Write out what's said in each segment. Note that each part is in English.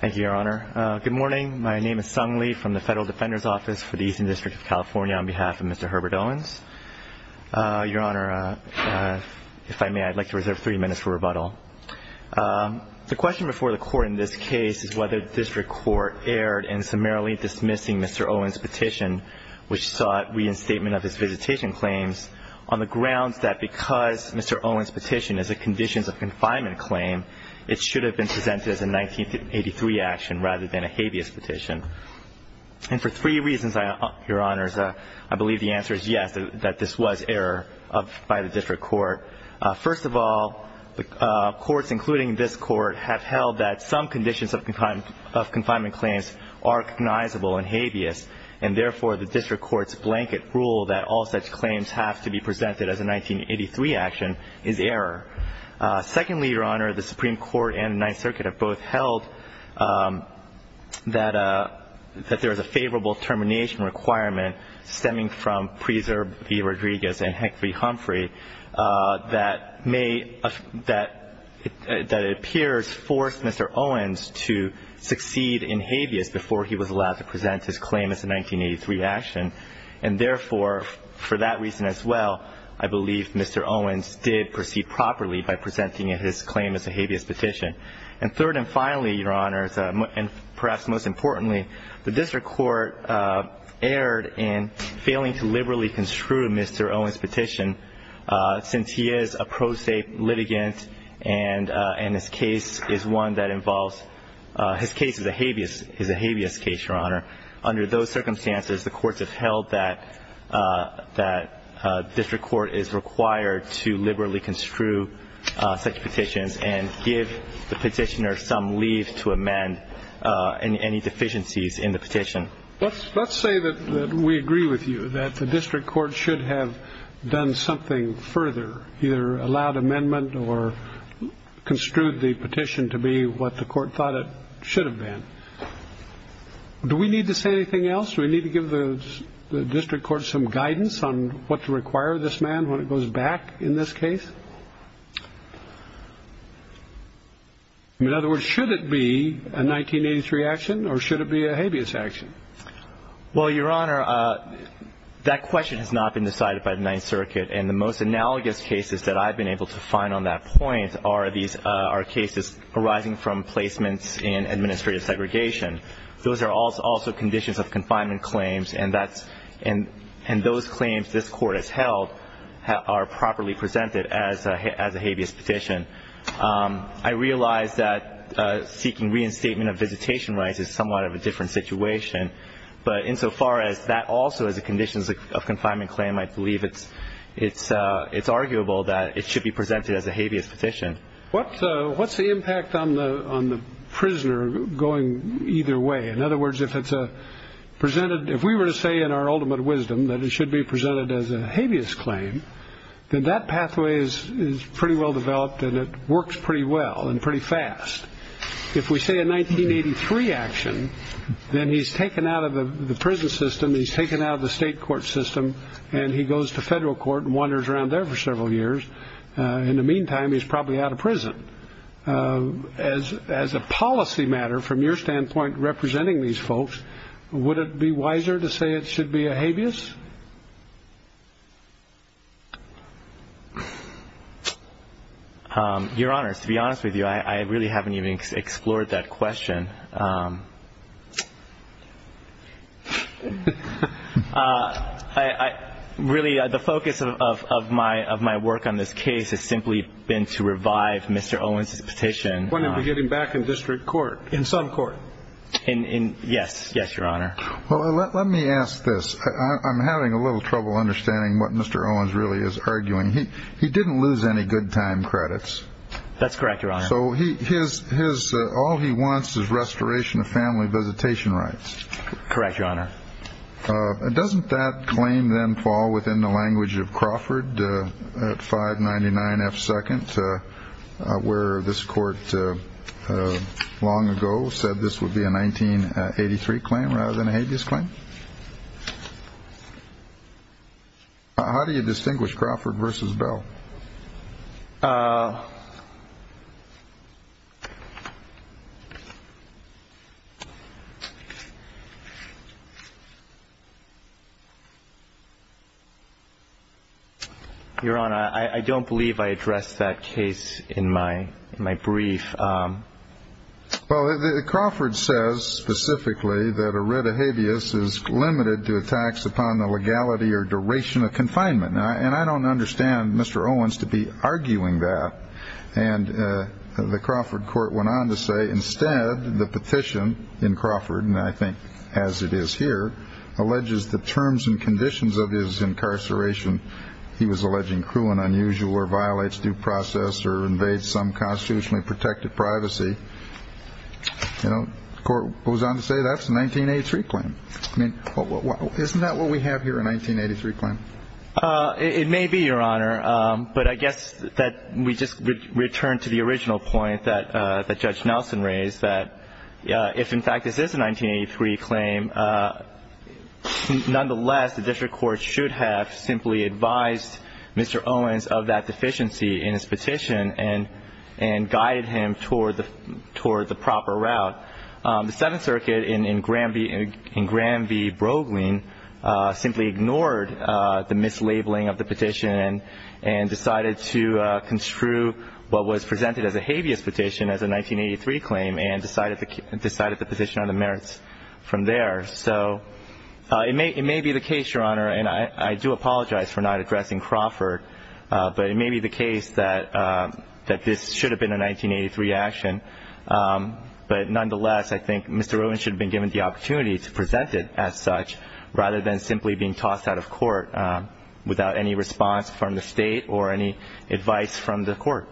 Thank you, Your Honor. Good morning. My name is Sung Lee from the Federal Defender's Office for the Eastern District of California on behalf of Mr. Herbert Owens. Your Honor, if I may, I'd like to reserve three minutes for rebuttal. The question before the Court in this case is whether District Court erred in summarily dismissing Mr. Owens' petition, which sought reinstatement of his visitation claims on the grounds that because Mr. Owens' petition is a conditions of confinement claim, it should have been presented as a 1983 action rather than a habeas petition. And for three reasons, Your Honor, I believe the answer is yes, that this was error by the District Court. First of all, the courts, including this Court, have held that some conditions of confinement claims are recognizable and habeas, and therefore the District Court's blanket rule that all such claims have to be presented as a 1983 action is error. Secondly, Your Honor, the Supreme Court and the Ninth Circuit have both held that there is a favorable termination requirement stemming from Preserve v. Rodriguez and Hick v. Humphrey that it appears forced Mr. Owens to succeed in habeas before he was allowed to present his claim as a 1983 action. And therefore, for that reason as well, I believe Mr. Owens did proceed properly by presenting his claim as a habeas petition. And third and finally, Your Honor, and perhaps most importantly, the District Court erred in failing to liberally construe Mr. Owens' petition since he is a pro se litigant and his case is one that involves – his case is a habeas case, Your Honor. Under those circumstances, the courts have held that District Court is required to liberally construe such petitions and give the petitioner some leave to amend any deficiencies in the petition. Let's say that we agree with you that the District Court should have done something further, either allowed amendment or construed the petition to be what the Court thought it should have been. Do we need to say anything else? Do we need to give the District Court some guidance on what to require of this man when it goes back in this case? In other words, should it be a 1983 action or should it be a habeas action? Well, Your Honor, that question has not been decided by the Ninth Circuit and the most analogous cases that I've been able to find on that point are these – those are also conditions of confinement claims and that's – and those claims this Court has held are properly presented as a habeas petition. I realize that seeking reinstatement of visitation rights is somewhat of a different situation, but insofar as that also is a conditions of confinement claim, I believe it's arguable that it should be presented as a habeas petition. What's the impact on the prisoner going either way? In other words, if it's presented – if we were to say in our ultimate wisdom that it should be presented as a habeas claim, then that pathway is pretty well developed and it works pretty well and pretty fast. If we say a 1983 action, then he's taken out of the prison system, he's taken out of the state court system, and he goes to federal court and wanders around there for several years. In the meantime, he's probably out of prison. As a policy matter from your standpoint representing these folks, would it be wiser to say it should be a habeas? Your Honors, to be honest with you, I really haven't even explored that question. Really, the focus of my work on this case has simply been to revive Mr. Owens's petition. You want him to get him back in district court, in some court? Yes, yes, Your Honor. Well, let me ask this. I'm having a little trouble understanding what Mr. Owens really is arguing. He didn't lose any good time credits. That's correct, Your Honor. So all he wants is restitution. Restoration of family visitation rights. Correct, Your Honor. Doesn't that claim then fall within the language of Crawford at 599F2nd, where this court long ago said this would be a 1983 claim rather than a habeas claim? How do you distinguish Crawford versus Bell? Your Honor, I don't believe I addressed that case in my brief. Well, Crawford says specifically that a writ of habeas is limited to a tax upon the legality or duration of confinement. And I don't understand Mr. Owens to be arguing that. And the Crawford court went on to say, instead, the petitioner should be able to claim that. The petition in Crawford, and I think as it is here, alleges the terms and conditions of his incarceration. He was alleging cruel and unusual or violates due process or invades some constitutionally protected privacy. You know, the court goes on to say that's a 1983 claim. I mean, isn't that what we have here, a 1983 claim? It may be, Your Honor. But I guess that we just return to the original point that Judge Nelson raised, that if, in fact, this is a 1983 claim, nonetheless, the district court should have simply advised Mr. Owens of that deficiency in his petition and guided him toward the proper route. The Seventh Circuit in Graham v. Broglin simply ignored the mislabeling of the petition and decided to construe what was presented as a habeas petition as a 1983 claim and decided the petition on the merits from there. So it may be the case, Your Honor, and I do apologize for not addressing Crawford, but it may be the case that this should have been a 1983 action. But nonetheless, I think Mr. Owens should have been given the opportunity to present it as such rather than simply being tossed out of court without any response from the state or any advice from the court.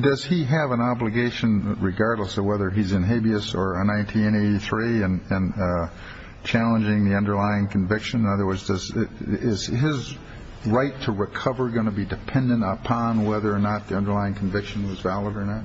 Does he have an obligation, regardless of whether he's in habeas or a 1983, in challenging the underlying conviction? In other words, is his right to recover going to be dependent upon whether or not the underlying conviction was valid or not?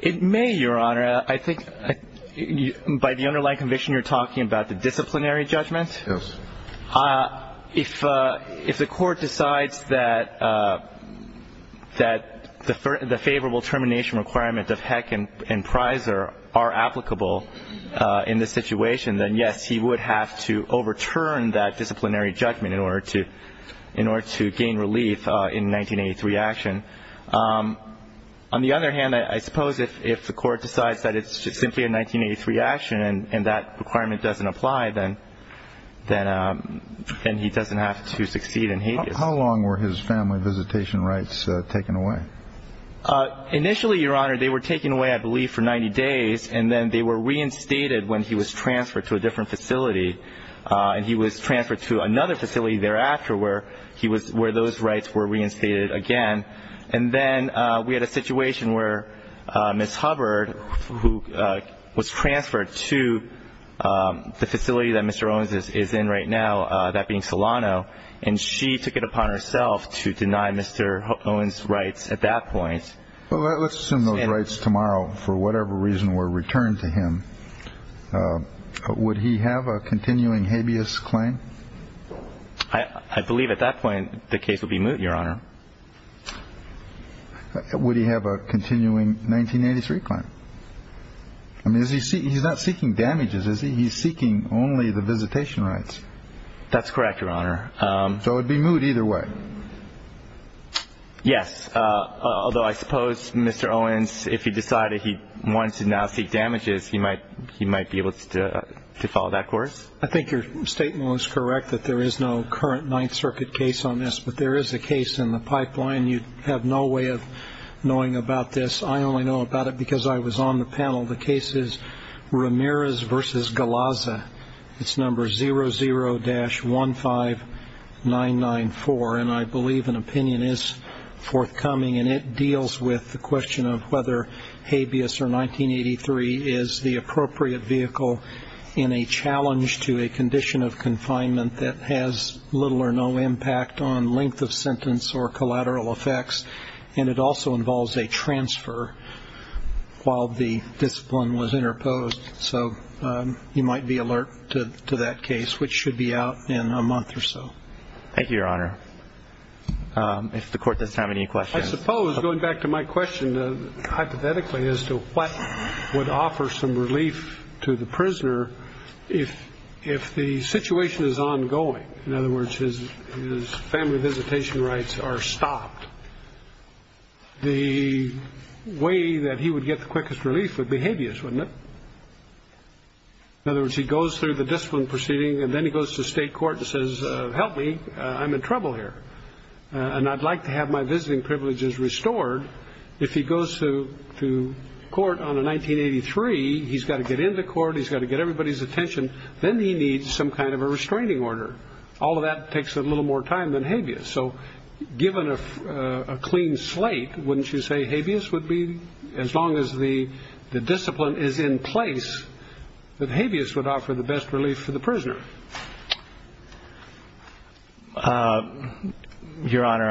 It may, Your Honor. I think by the underlying conviction, you're talking about the disciplinary judgment. Yes. If the court decides that the favorable termination requirement of Heck and Prizer are applicable in this situation, then, yes, he would have to overturn that disciplinary judgment in order to gain relief in a 1983 action. On the other hand, I suppose if the court decides that it's simply a 1983 action and that requirement doesn't apply, then he doesn't have to succeed in habeas. How long were his family visitation rights taken away? Initially, Your Honor, they were taken away, I believe, for 90 days, and then they were reinstated when he was transferred to a different facility, and he was transferred to another facility thereafter where those rights were reinstated again. And then we had a situation where Ms. Hubbard, who was transferred to the facility that Mr. Owens is in right now, that being Solano, and she took it upon herself to deny Mr. Owens rights at that point. Well, let's assume those rights tomorrow for whatever reason were returned to him. Would he have a continuing habeas claim? I believe at that point the case would be moot, Your Honor. Would he have a continuing 1983 claim? I mean, he's not seeking damages, is he? He's seeking only the visitation rights. That's correct, Your Honor. So it would be moot either way. Yes, although I suppose Mr. Owens, if he decided he wanted to now seek damages, he might be able to follow that course. I think your statement was correct that there is no current Ninth Circuit case on this, but there is a case in the pipeline you have no way of knowing about this. I only know about it because I was on the panel. The case is Ramirez v. Galazza. It's number 00-15994, and I believe an opinion is forthcoming, and it deals with the question of whether habeas or 1983 is the appropriate vehicle in a challenge to a condition of confinement that has little or no impact on length of sentence or collateral effects, and it also involves a transfer. While the discipline was interposed. So you might be alert to that case, which should be out in a month or so. Thank you, Your Honor. If the Court does have any questions. I suppose, going back to my question hypothetically as to what would offer some relief to the prisoner, if the situation is ongoing, in other words, his family visitation rights are stopped, the way that he would get the quickest relief would be habeas, wouldn't it? In other words, he goes through the discipline proceeding, and then he goes to state court and says, help me, I'm in trouble here, and I'd like to have my visiting privileges restored. If he goes to court on a 1983, he's got to get into court. He's got to get everybody's attention. Then he needs some kind of a restraining order. All of that takes a little more time than habeas. So given a clean slate, wouldn't you say habeas would be as long as the discipline is in place, that habeas would offer the best relief for the prisoner? Your Honor,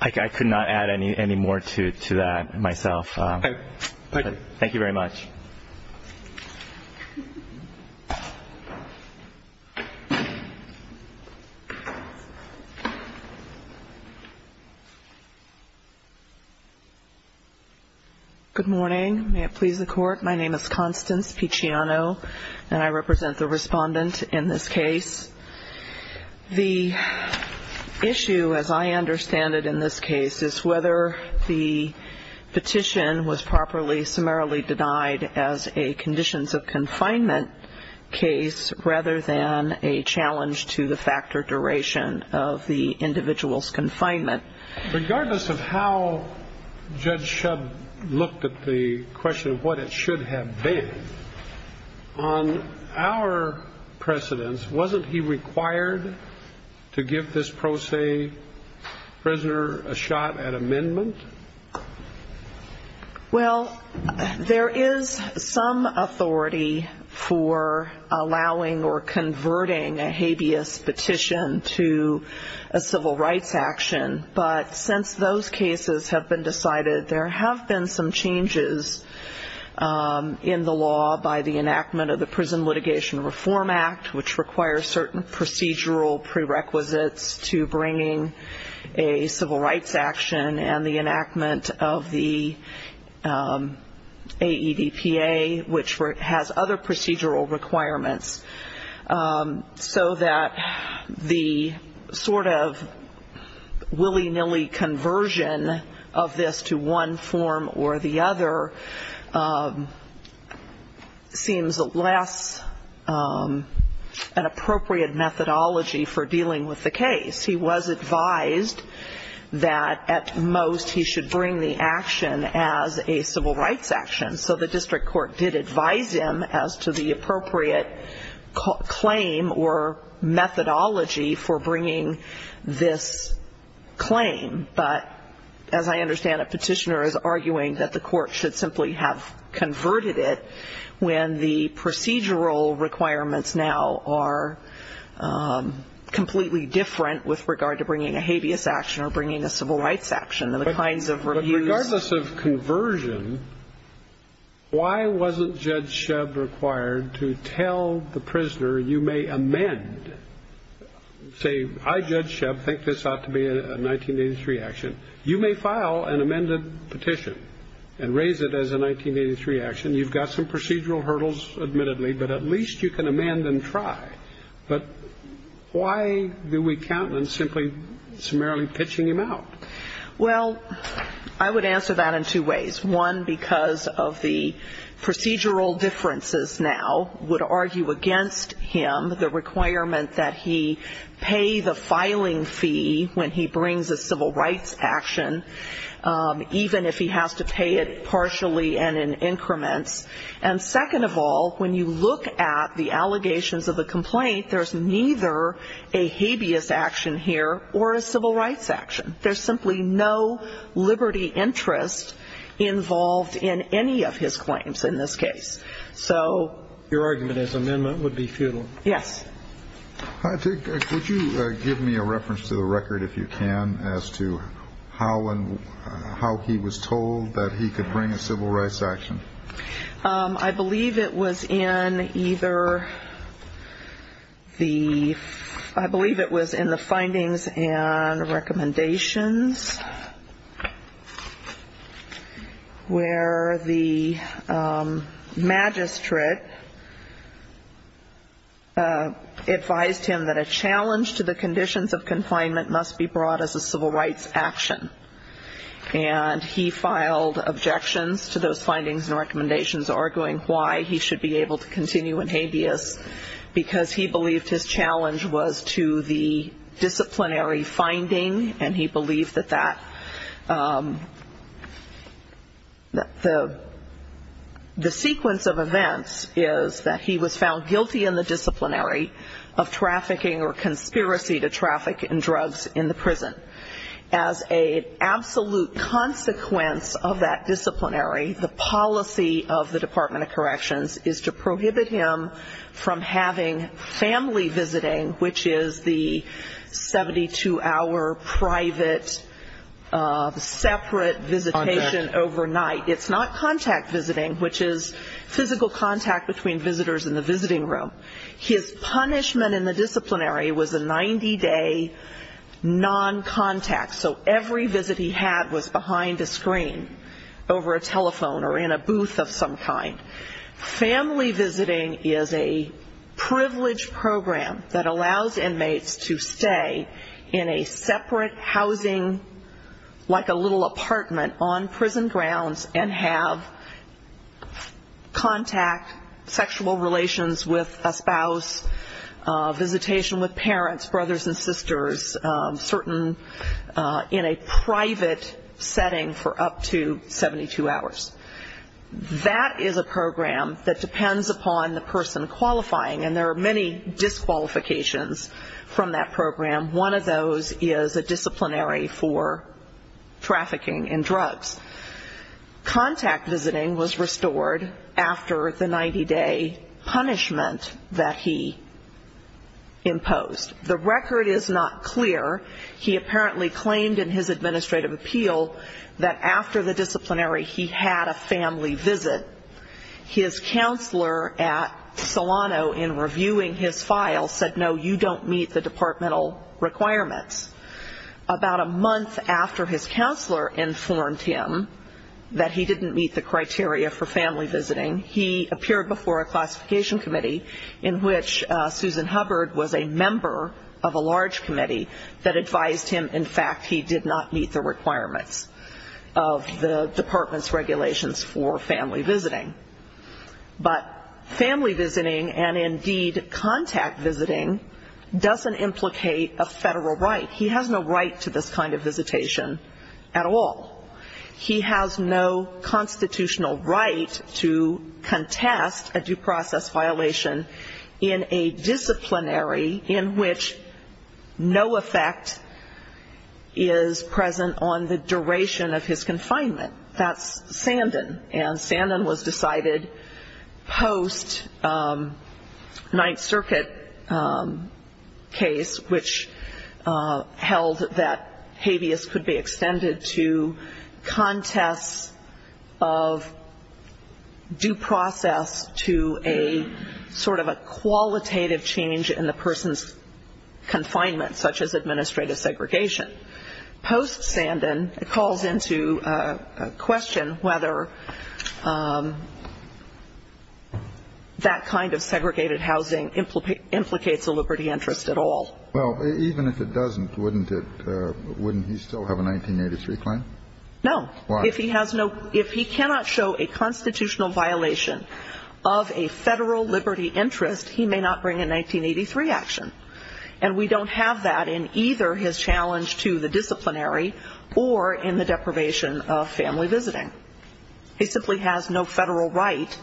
I could not add any more to that myself. Thank you. Thank you very much. Good morning. May it please the Court, my name is Constance Picciano, and I represent the respondent in this case. The issue, as I understand it in this case, is whether the petition was properly summarily denied as a conditions of confinement case rather than a challenge to the factor duration of the individual's confinement. Regardless of how Judge Shub looked at the question of what it should have been, on our precedents, wasn't he required to give this pro se prisoner a shot at amendment? Well, there is some authority for allowing or converting a habeas petition to a civil rights action, but since those cases have been decided, there have been some changes in the law by the enactment of the Prison Litigation Reform Act, which requires certain procedural prerequisites to bringing a civil rights action, and the enactment of the AEDPA, which has other procedural requirements, so that the sort of willy-nilly conversion of this to one form or the other seems less an appropriate methodology for dealing with the case. He was advised that at most he should bring the action as a civil rights action, and so the district court did advise him as to the appropriate claim or methodology for bringing this claim, but as I understand it, petitioner is arguing that the court should simply have converted it when the procedural requirements now are completely different with regard to bringing a habeas action or bringing a civil rights action. But regardless of conversion, why wasn't Judge Shebb required to tell the prisoner, you may amend, say, I, Judge Shebb, think this ought to be a 1983 action. You may file an amended petition and raise it as a 1983 action. You've got some procedural hurdles, admittedly, but at least you can amend and try, but why do we count on simply summarily pitching him out? Well, I would answer that in two ways. One, because of the procedural differences now would argue against him the requirement that he pay the filing fee when he brings a civil rights action, even if he has to pay it partially and in increments. And second of all, when you look at the allegations of the complaint, there's neither a habeas action here or a civil rights action. There's simply no liberty interest involved in any of his claims in this case. So... Your argument is amendment would be futile. Yes. Could you give me a reference to the record, if you can, as to how he was told that he could bring a civil rights action? I believe it was in either the ‑‑ I believe it was in the findings and recommendations where the magistrate advised him that a challenge to the conditions of confinement must be brought as a civil rights action. And he filed objections to those findings and recommendations arguing why he should be able to continue in habeas because he believed his challenge was to the disciplinary finding and he believed that the sequence of events is that he was found guilty in the disciplinary of trafficking or conspiracy to traffic in drugs in the prison as an absolute consequence of that disciplinary. The policy of the Department of Corrections is to prohibit him from having family visiting, which is the 72‑hour private separate visitation overnight. It's not contact visiting, which is physical contact between visitors in the visiting room. His punishment in the disciplinary was a 90‑day noncontact, so every visit he had was behind a screen over a telephone or in a booth of some kind. Family visiting is a privileged program that allows inmates to stay in a separate housing, like a little apartment, on prison grounds and have contact, sexual relations with a spouse, visitation with parents, brothers and sisters, certain in a private setting for up to 72 hours. That is a program that depends upon the person qualifying, and there are many disqualifications from that program. One of those is a disciplinary for trafficking in drugs. Contact visiting was restored after the 90‑day punishment that he imposed. The record is not clear. He apparently claimed in his administrative appeal that after the disciplinary he had a family visit. His counselor at Solano in reviewing his file said, no, you don't meet the departmental requirements. About a month after his counselor informed him that he didn't meet the criteria for family visiting, he appeared before a classification committee in which Susan Hubbard was a member of a large committee that advised him, in fact, he did not meet the requirements of the department's regulations for family visiting. But family visiting and, indeed, contact visiting doesn't implicate a federal right. He has no right to this kind of visitation at all. He has no constitutional right to contest a due process violation in a disciplinary in which no effect is present on the duration of his confinement. That's Sandin, and Sandin was decided post‑Ninth Circuit case, which held that habeas could be extended to contests of due process to a sort of a qualitative change in the person's confinement, such as administrative segregation. Post Sandin calls into question whether that kind of segregated housing implicates a liberty interest at all. Well, even if it doesn't, wouldn't it ‑‑ wouldn't he still have a 1983 claim? No. Why? Because if he has no ‑‑ if he cannot show a constitutional violation of a federal liberty interest, he may not bring a 1983 action. And we don't have that in either his challenge to the disciplinary or in the deprivation of family visiting. He simply has no federal right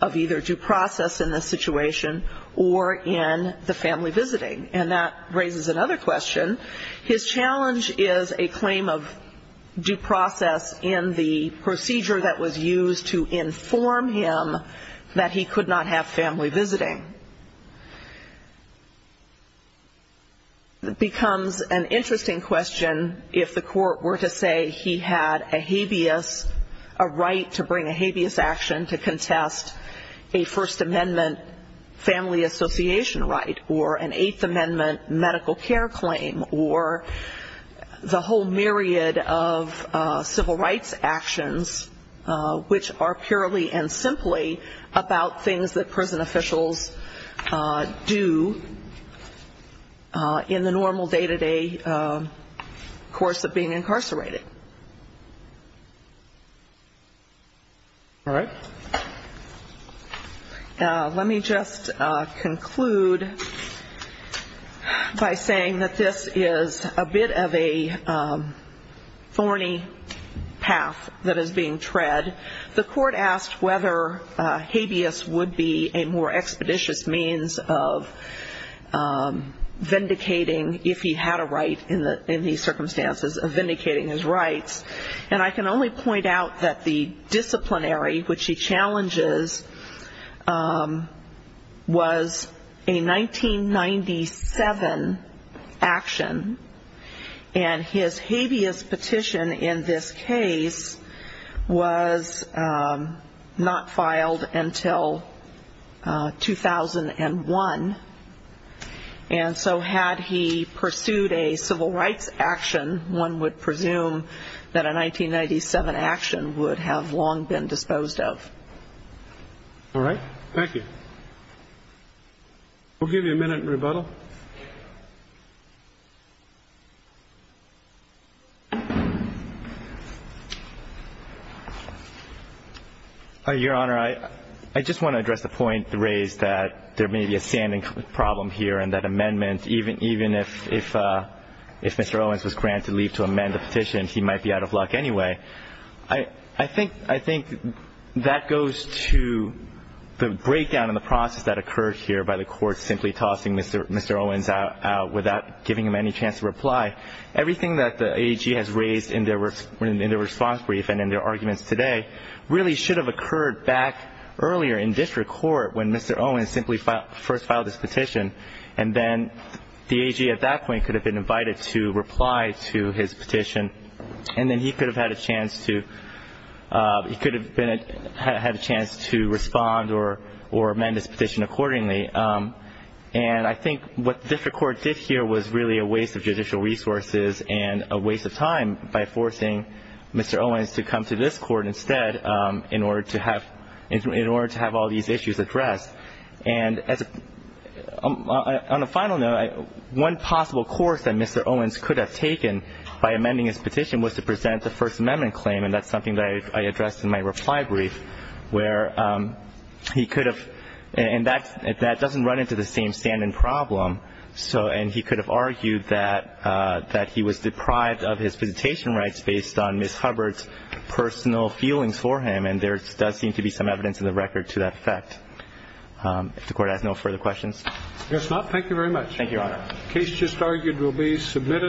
of either due process in this situation or in the family visiting. And that raises another question. His challenge is a claim of due process in the procedure that was used to inform him that he could not have family visiting. It becomes an interesting question if the court were to say he had a habeas, a right to bring a habeas action to contest a First Amendment family association right or an Eighth Amendment medical care claim or the whole myriad of civil rights actions, which are purely and simply about things that prison officials do in the normal day-to-day course of being incarcerated. All right. Let me just conclude by saying that this is a bit of a thorny path that is being tread. The court asked whether habeas would be a more expeditious means of vindicating, if he had a right in these circumstances, of vindicating his rights. And I can only point out that the disciplinary, which he challenges, was a 1997 action. And his habeas petition in this case was not filed until 2001. And so had he pursued a civil rights action, one would presume that a 1997 action would have long been disposed of. All right. Thank you. We'll give you a minute in rebuttal. Your Honor, I just want to address the point raised that there may be a standing problem here in that amendment. Even if Mr. Owens was granted leave to amend the petition, he might be out of luck anyway. I think that goes to the breakdown in the process that occurred here by the court simply tossing Mr. Owens out of the case. Tossing Mr. Owens out without giving him any chance to reply. Everything that the AG has raised in their response brief and in their arguments today really should have occurred back earlier in district court when Mr. Owens simply first filed his petition. And then the AG at that point could have been invited to reply to his petition. And then he could have had a chance to respond or amend his petition accordingly. And I think what district court did here was really a waste of judicial resources and a waste of time by forcing Mr. Owens to come to this court instead in order to have all these issues addressed. And on a final note, one possible course that Mr. Owens could have taken by amending his petition was to present the First Amendment claim, and that's something that I addressed in my reply brief, where he could have, and that doesn't run into the same stand-in problem, and he could have argued that he was deprived of his visitation rights based on Ms. Hubbard's personal feelings for him. And there does seem to be some evidence in the record to that effect. If the Court has no further questions. I guess not. Thank you very much. Thank you, Your Honor. The case just argued will be submitted.